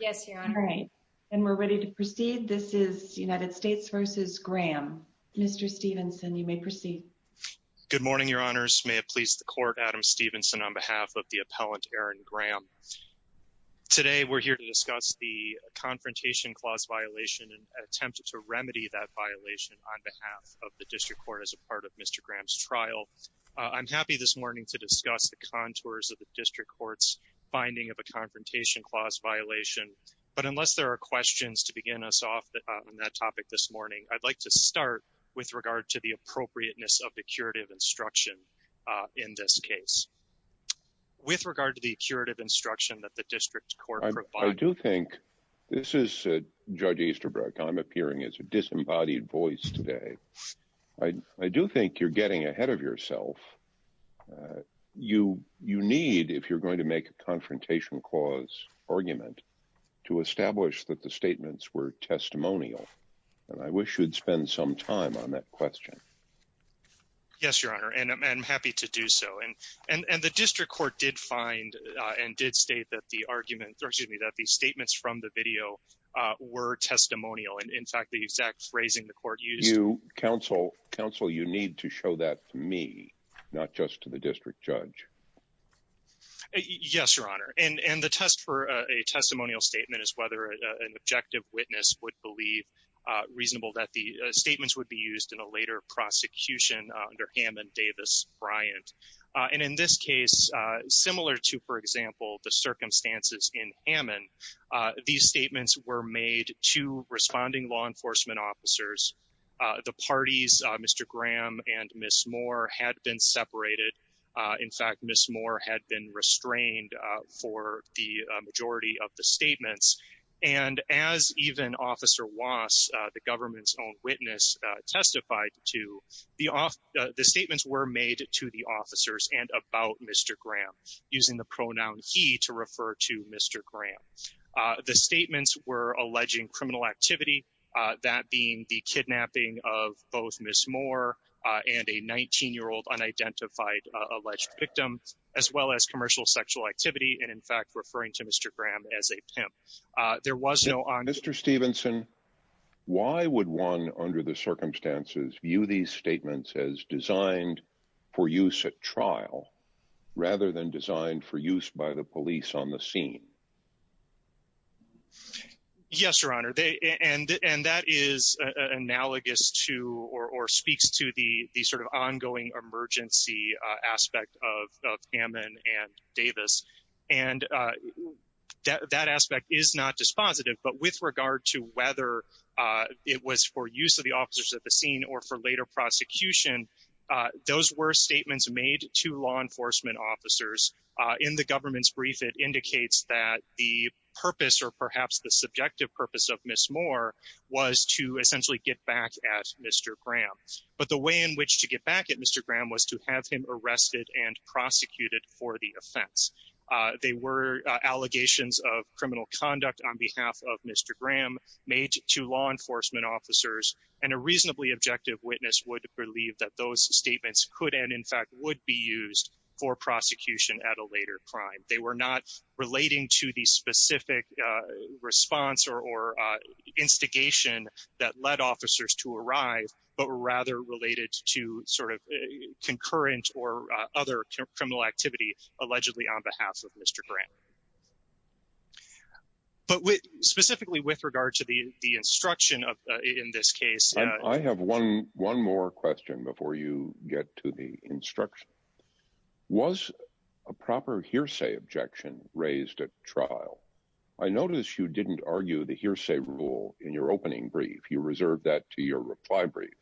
Yes, your honor. All right, and we're ready to proceed. This is United States v. Graham. Mr. Stevenson, you may proceed. Good morning, your honors. May it please the court, Adam Stevenson, on behalf of the appellant, Erin Graham. Today, we're here to discuss the confrontation clause violation and attempt to remedy that violation on behalf of the district court as a part of Mr. Graham's trial. I'm happy this morning to discuss the contours of the violation, but unless there are questions to begin us off on that topic this morning, I'd like to start with regard to the appropriateness of the curative instruction in this case. With regard to the curative instruction that the district court provides... I do think... This is Judge Easterbrook. I'm appearing as a disembodied voice today. I do think you're getting ahead of yourself. You need, if you're going to make a confrontation clause argument, to establish that the statements were testimonial, and I wish you'd spend some time on that question. Yes, your honor, and I'm happy to do so. And the district court did find and did state that the arguments... Excuse me, that the statements from the video were testimonial, and in fact, the exact phrasing the court used... Counsel, you need to show that to me, not just to the district judge. Yes, your honor, and the test for a testimonial statement is whether an objective witness would believe reasonable that the statements would be used in a later prosecution under Hammond, Davis, Bryant. And in this case, similar to, for example, the circumstances in Hammond, these statements were made to responding law enforcement officers. The parties, Mr. Graham and Ms. Moore, had been separated. In fact, Ms. Moore had been restrained for the majority of the statements. And as even Officer Wass, the government's own witness, testified to, the statements were made to the officers and about Mr. Graham, using the pronoun he to refer to Mr. Graham. The statements were alleging criminal activity, that being the kidnapping of both Ms. Moore and a 19-year-old unidentified alleged victim, as well as commercial sexual activity. And in fact, referring to Mr. Graham as a pimp. There was no... Mr. Stevenson, why would one under the circumstances view these statements as designed for use at trial, rather than designed for use by the police on the scene? Yes, Your Honor. And that is analogous to, or speaks to the sort of ongoing emergency aspect of Hammond and Davis. And that aspect is not dispositive, but with regard to whether it was for use of the officers at the scene or for later prosecution, those were statements made to law enforcement officers. In the government's brief, it indicates that the purpose, or perhaps the subjective purpose of Ms. Moore was to essentially get back at Mr. Graham. But the way in which to get back at Mr. Graham was to have him arrested and prosecuted for the offense. They were allegations of criminal conduct on behalf of Mr. Graham, made to law enforcement officers. And a reasonably objective witness would believe that those statements could, and in fact, would be used for prosecution at a later crime. They were not relating to the specific response or instigation that led officers to arrive, but were rather related to sort of concurrent or other criminal activity allegedly on behalf of Mr. Graham. But specifically with regard to the instruction in this case... raised at trial. I noticed you didn't argue the hearsay rule in your opening brief. You reserved that to your reply brief.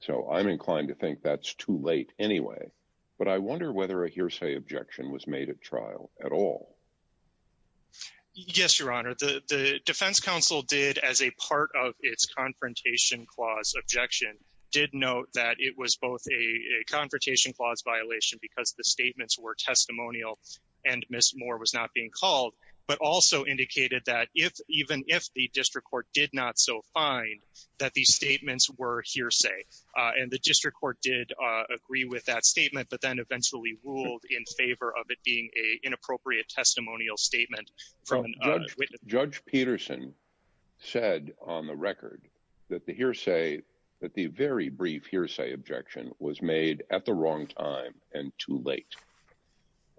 So I'm inclined to think that's too late anyway. But I wonder whether a hearsay objection was made at trial at all. Yes, Your Honor. The defense counsel did, as a part of its confrontation clause objection, did note that it was both a confrontation clause violation because the statements were testimonial and Ms. Moore was not being called, but also indicated that even if the district court did not so find that these statements were hearsay, and the district court did agree with that statement, but then eventually ruled in favor of it being an inappropriate testimonial statement. Judge Peterson said on the record that the hearsay, that the very brief hearsay objection was made at the wrong time and too late.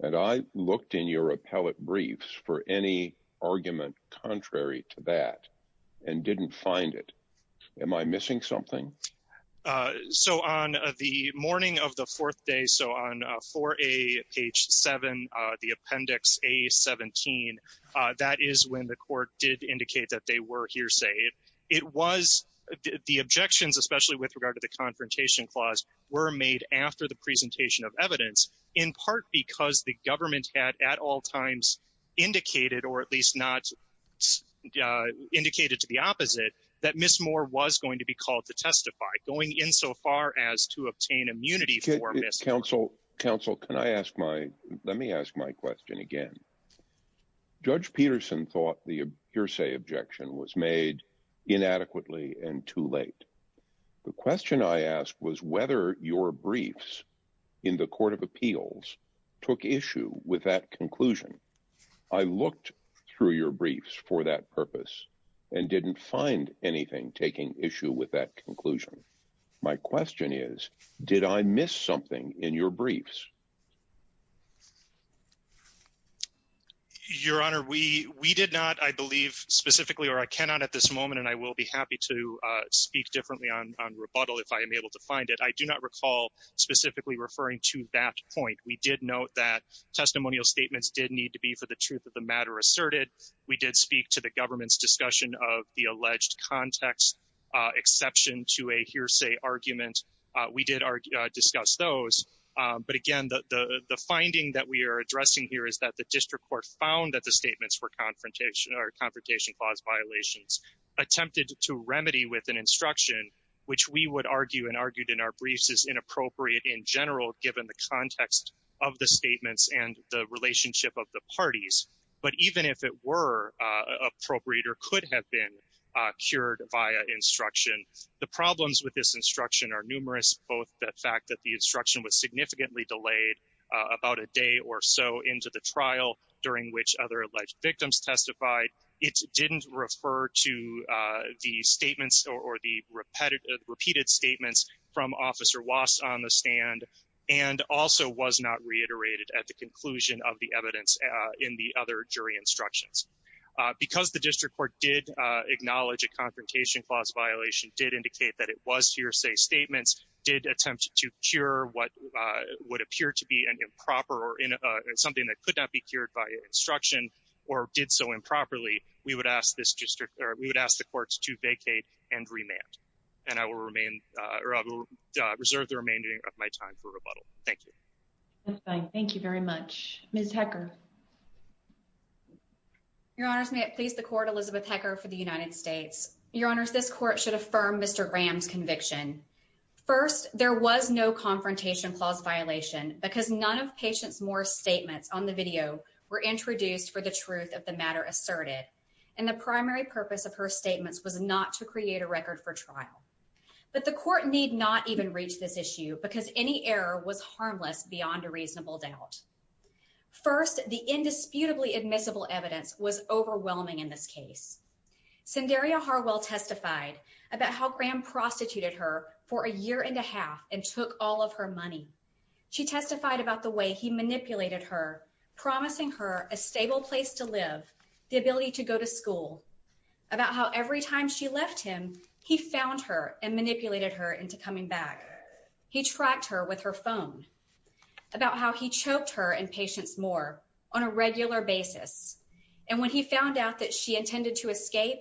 And I looked in your appellate briefs for any argument contrary to that and didn't find it. Am I missing something? So on the morning of the fourth day, so on 4A, page seven, the appendix A-17, that is when the court did indicate that they were hearsay. It was... the objections, especially with regard to the confrontation clause, were made after the presentation of evidence in part because the government had at all times indicated, or at least not indicated to the opposite, that Ms. Moore was going to be called to testify, going in so far as to obtain immunity for Ms. Moore. Counsel, counsel, can I ask my... let me ask my question again. Judge Peterson thought the hearsay objection was made inadequately and too late. The question I asked was whether your briefs in the court of appeals took issue with that conclusion. I looked through your briefs for that purpose and didn't find anything taking issue with that conclusion. My question is, did I miss something in your briefs? Your Honor, we did not, I believe specifically, or I cannot at this moment, and I will be happy to un-rebuttal if I am able to find it. I do not recall specifically referring to that point. We did note that testimonial statements did need to be, for the truth of the matter, asserted. We did speak to the government's discussion of the alleged context exception to a hearsay argument. We did discuss those. But again, the finding that we are addressing here is that the district court found that the statements for confrontation or confrontation clause violations attempted to remedy with an instruction, which we would argue and argued in our briefs is inappropriate in general, given the context of the statements and the relationship of the parties. But even if it were appropriate or could have been cured via instruction, the problems with this instruction are numerous, both the fact that the instruction was significantly delayed about a day or so into the trial, during which other alleged victims testified. It didn't refer to the statements or the repeated statements from Officer Wass on the stand and also was not reiterated at the conclusion of the evidence in the other jury instructions. Because the district court did acknowledge a confrontation clause violation, did indicate that it was hearsay statements, did attempt to cure what would appear to be an improper or something that could not be we would ask the courts to vacate and remand and I will remain or I will reserve the remaining of my time for rebuttal. Thank you. That's fine. Thank you very much. Ms. Hecker. Your honors, may it please the court, Elizabeth Hecker for the United States. Your honors, this court should affirm Mr. Graham's conviction. First, there was no confrontation clause violation because none of patients more statements on the video were of her statements was not to create a record for trial. But the court need not even reach this issue because any error was harmless beyond a reasonable doubt. First, the indisputably admissible evidence was overwhelming in this case. Sundariya Harwell testified about how Graham prostituted her for a year and a half and took all of her money. She testified about the way he manipulated her, promising her a stable place to live, the ability to go to school, about how every time she left him, he found her and manipulated her into coming back. He tracked her with her phone about how he choked her and patients more on a regular basis. And when he found out that she intended to escape,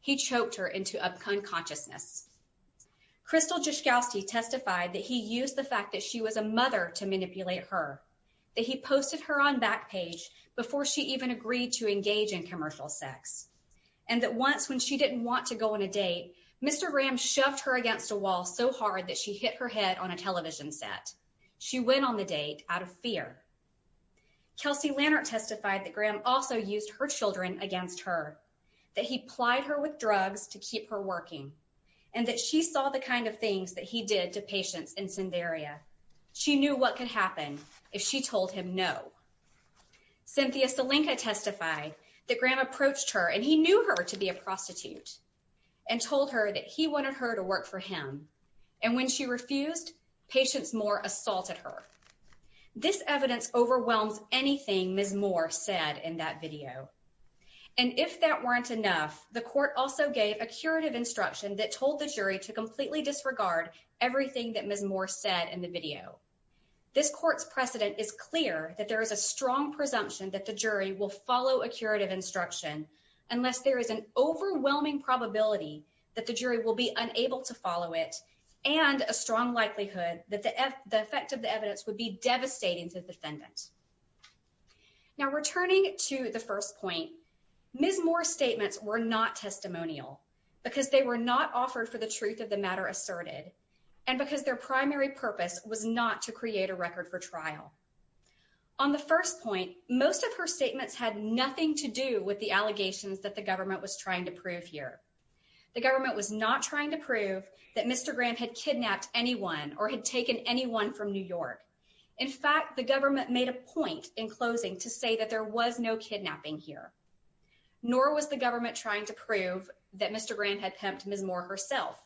he choked her into unconsciousness. Crystal Jaskowski testified that he used the fact that she was a mother to manipulate her, that he posted her on Backpage before she even agreed to engage in commercial sex, and that once when she didn't want to go on a date, Mr. Graham shoved her against a wall so hard that she hit her head on a television set. She went on the date out of fear. Kelsey Lannert testified that Graham also used her children against her, that he plied her with drugs to kind of things that he did to patients in Cinderia. She knew what could happen if she told him no. Cynthia Salinka testified that Graham approached her and he knew her to be a prostitute and told her that he wanted her to work for him. And when she refused, patients more assaulted her. This evidence overwhelms anything Ms. Moore said in that video. And if that weren't enough, the court also gave a curative instruction that told the jury to completely disregard everything that Ms. Moore said in the video. This court's precedent is clear that there is a strong presumption that the jury will follow a curative instruction unless there is an overwhelming probability that the jury will be unable to follow it and a strong likelihood that the effect of the evidence would be devastating to the defendant. Now returning to the first point, Ms. Moore's statements were not testimonial because they were not offered for the truth of the matter asserted and because their primary purpose was not to create a record for trial. On the first point, most of her statements had nothing to do with the allegations that the government was trying to prove here. The government was not trying to prove that Mr. Graham had kidnapped anyone or had taken anyone from New York. In fact, the government made a point in kidnapping here. Nor was the government trying to prove that Mr. Graham had pimped Ms. Moore herself.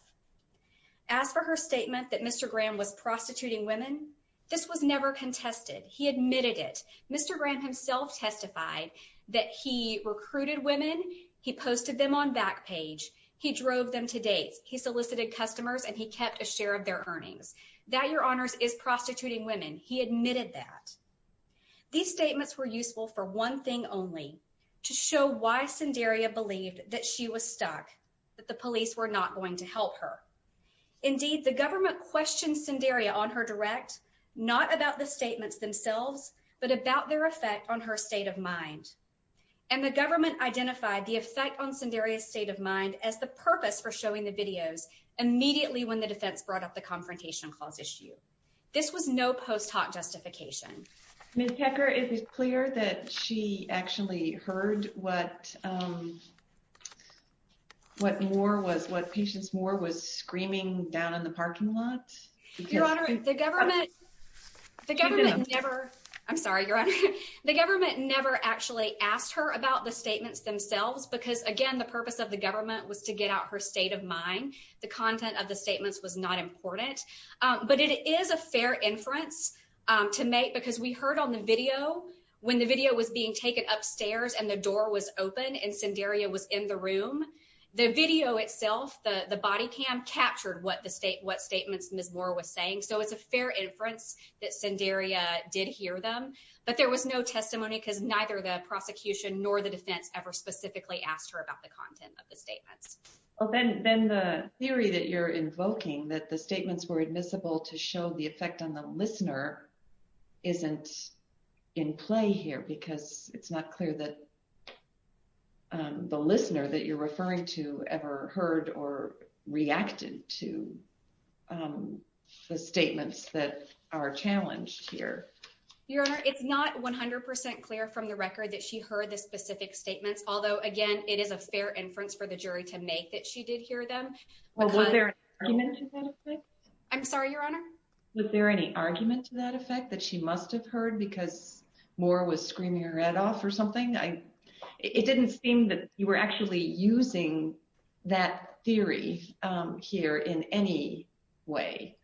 As for her statement that Mr. Graham was prostituting women, this was never contested. He admitted it. Mr. Graham himself testified that he recruited women, he posted them on Backpage, he drove them to dates, he solicited customers, and he kept a share of their earnings. That, your honors, is prostituting women. He admitted that. These statements were useful for one thing only, to show why Sundaria believed that she was stuck, that the police were not going to help her. Indeed, the government questioned Sundaria on her direct, not about the statements themselves, but about their effect on her state of mind. And the government identified the effect on Sundaria's state of mind as the purpose for showing the videos immediately when the defense brought up the confrontation clause issue. This was no post hoc justification. Ms. Hecker, is it clear that she actually heard what, um, what Moore was, what Patience Moore was screaming down in the parking lot? Your honor, the government, the government never, I'm sorry, your honor, the government never actually asked her about the statements themselves because, again, the purpose of the government was to get out her state of mind. The content of the statements was not important. But it is a fair inference to make because we heard on the video, when the video was being taken upstairs and the door was open and Sundaria was in the room, the video itself, the body cam captured what the state, what statements Ms. Moore was saying. So it's a fair inference that Sundaria did hear them. But there was no testimony because neither the prosecution nor the defense ever specifically asked her about the content of the statements. Well, then, then the theory that you're invoking, that the statements were admissible to show the effect on the listener, isn't in play here because it's not clear that, um, the listener that you're referring to ever heard or reacted to, um, the statements that are challenged here. Your honor, it's not 100% clear from the record that she heard the specific statements. Although again, it is a fair inference for the jury to make that she did hear them. I'm sorry, your honor. Was there any argument to that effect that she must've heard because Moore was screaming her head off or something? I, it didn't seem that you were actually using that theory, um, here in any way.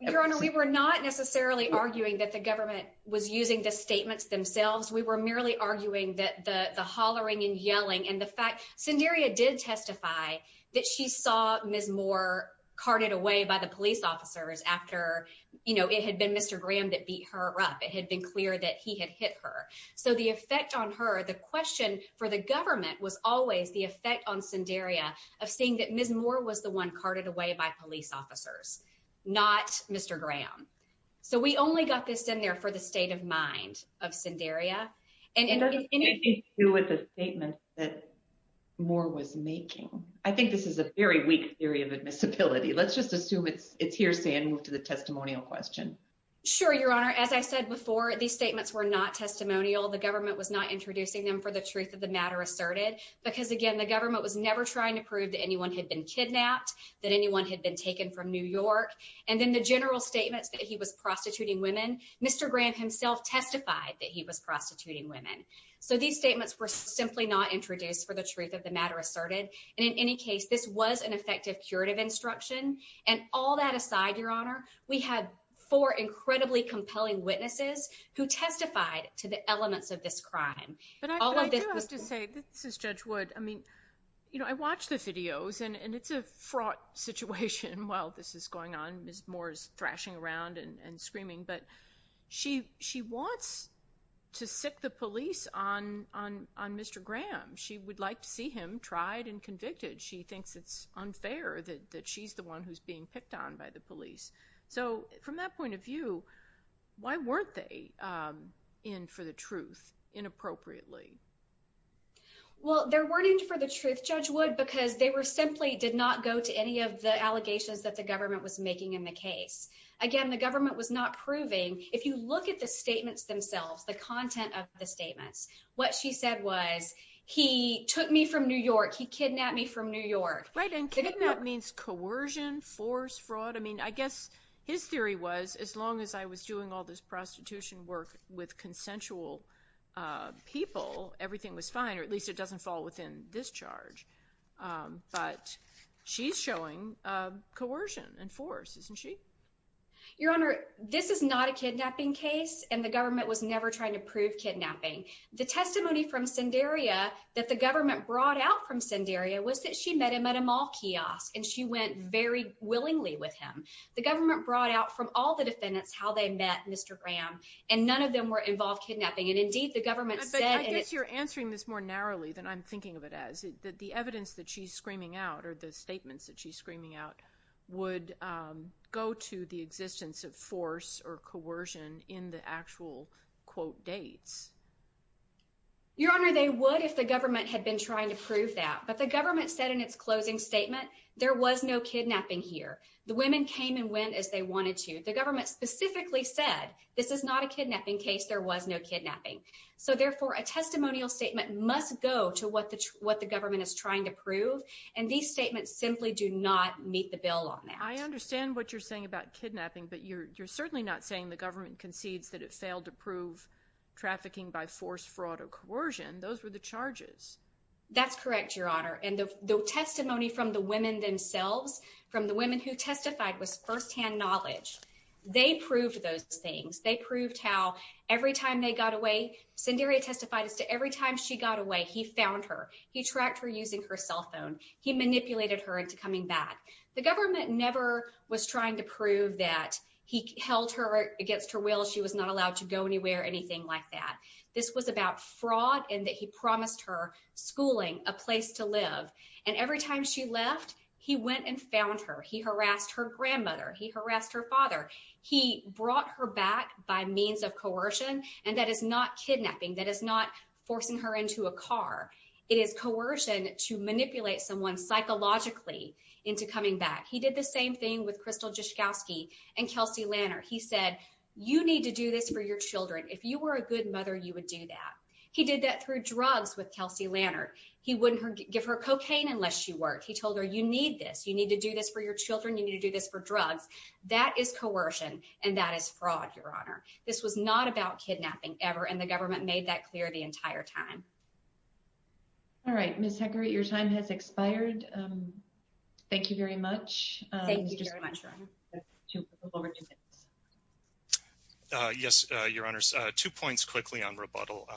Your honor, we were not necessarily arguing that the government was using the statements themselves. We were merely arguing that the, the hollering and screaming that she was screaming her head off. So the effect on her, the question for the government was always the effect on Cinderia of seeing that Ms. Moore was the one carted away by police officers, not Mr. Graham. So we only got this in there for the state of mind of Cinderia. And it doesn't seem to be true with the statements that Moore was screaming her head off. I think this is a very weak theory of admissibility. Let's just assume it's, it's hearsay and move to the testimonial question. Sure. Your honor, as I said before, these statements were not testimonial. The government was not introducing them for the truth of the matter asserted because again, the government was never trying to prove that anyone had been kidnapped, that anyone had been taken from New York. And then the general statements that he was prostituting women, Mr. Graham himself testified that he was prostituting women. So these statements were simply not introduced for the truth of the matter asserted. And in any case, this was an effective curative instruction. And all that aside, your honor, we had four incredibly compelling witnesses who testified to the elements of this crime. But I do have to say, this is Judge Wood. I mean, you know, I watch the videos and it's a fraught situation while this is going on. Ms. Moore's thrashing around and screaming, but she, she wants to sick the police on, on, on Mr. Graham. She would like to see him tried and convicted. She thinks it's unfair that she's the one who's being picked on by the police. So from that point of view, why weren't they in for the truth inappropriately? Well, there weren't in for the truth, Judge Wood, because they were simply did not go to any of the If you look at the statements themselves, the content of the statements, what she said was he took me from New York. He kidnapped me from New York. Right. And kidnapped means coercion, force fraud. I mean, I guess his theory was as long as I was doing all this prostitution work with consensual people, everything was fine, or at least it doesn't fall within this charge. But she's showing coercion and force, isn't she? Your Honor, this is not a kidnapping case and the government was never trying to prove kidnapping. The testimony from Sendaria that the government brought out from Sendaria was that she met him at a mall kiosk and she went very willingly with him. The government brought out from all the defendants how they met Mr. Graham and none of them were involved kidnapping. And indeed, the government said, I guess you're answering this more narrowly than I'm thinking of it as that the evidence that she's screaming out or the statements that she's screaming out would go to the existence of force or coercion in the actual, quote, dates. Your Honor, they would if the government had been trying to prove that. But the government said in its closing statement, there was no kidnapping here. The women came and went as they wanted to. The government specifically said, this is not a kidnapping case. There was no kidnapping. So therefore, a testimonial statement must go to what the government is trying to prove. And these statements simply do not meet the bill on that. I understand what you're saying about kidnapping, but you're certainly not saying the government concedes that it failed to prove trafficking by force, fraud or coercion. Those were the charges. That's correct, Your Honor. And the testimony from the women themselves, from the women who testified was firsthand knowledge. They proved those things. They proved how every time they got away, Sendaria testified as to every time she got away, he found her. He tracked her using her cell phone. He manipulated her into coming back. The government never was trying to prove that he held her against her will. She was not allowed to go anywhere, anything like that. This was about fraud and that he promised her schooling, a place to live. And every time she left, he went and found her. He harassed her grandmother. He harassed her father. He brought her back by means of coercion. And that is not kidnapping. That is not forcing her into a car. It is coercion to manipulate someone psychologically into coming back. He did the same thing with Krystal Jaskowski and Kelsey Lannert. He said, you need to do this for your children. If you were a good mother, you would do that. He did that through drugs with Kelsey Lannert. He wouldn't give her cocaine unless she worked. He told her, you need this. You need to do this for your children. You need to do this for drugs. That is coercion. And that is fraud, Your Honor. This was not about kidnapping ever. And the government made that clear the entire time. All right, Ms. Hecker, your time has expired. Thank you very much. Yes, Your Honors. Two points quickly on rebuttal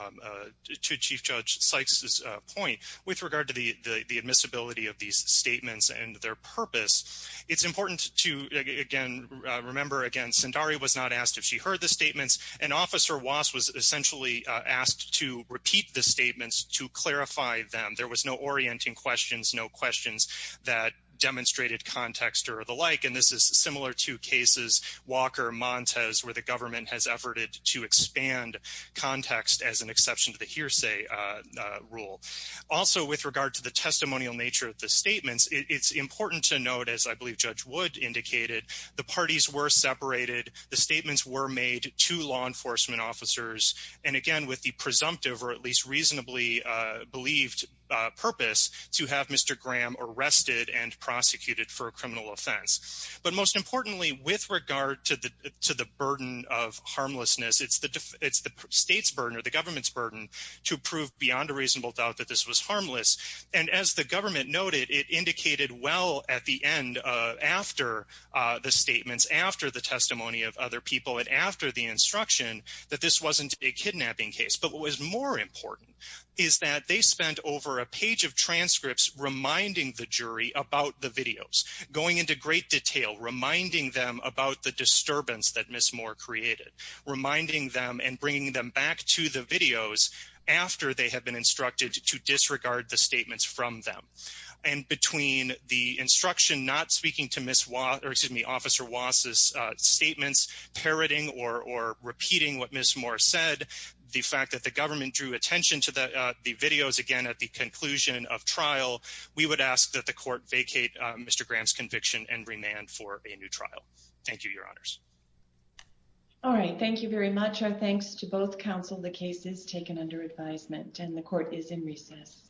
to Chief Judge Sykes' point with regard to the admissibility of these statements and their purpose. It's important to, again, remember, Sundari was not asked if she heard the statements. And Officer Wass was essentially asked to repeat the statements to clarify them. There was no orienting questions, no questions that demonstrated context or the like. And this is similar to cases, Walker, Montez, where the government has efforted to expand context as an exception to the hearsay rule. Also, with regard to the testimonial nature of the statements, it's important to note, as I believe Judge Wood indicated, the parties were separated. The statements were made to law enforcement officers. And again, with the presumptive or at least reasonably believed purpose to have Mr. Graham arrested and prosecuted for a criminal offense. But most importantly, with regard to the burden of harmlessness, it's the state's burden or the government's burden to prove beyond a reasonable doubt that this was harmless. And as the government noted, it indicated well at the end, after the statements, after the testimony of other people, and after the instruction, that this wasn't a kidnapping case. But what was more important is that they spent over a page of transcripts reminding the jury about the videos, going into great detail, reminding them about the disturbance that Ms. Moore created, reminding them and bringing them back to the videos after they had been instructed to disregard the statements from them. And between the instruction not speaking to Ms. Waugh, or excuse me, Officer Waugh's statements, parroting or repeating what Ms. Moore said, the fact that the government drew attention to the videos, again, at the conclusion of trial, we would ask that the court vacate Mr. Graham's conviction and remand for a new trial. Thank you, Your Honors. All right. Thank you very much. Our thanks to both counsel. The case is taken under advisement and the court is in recess.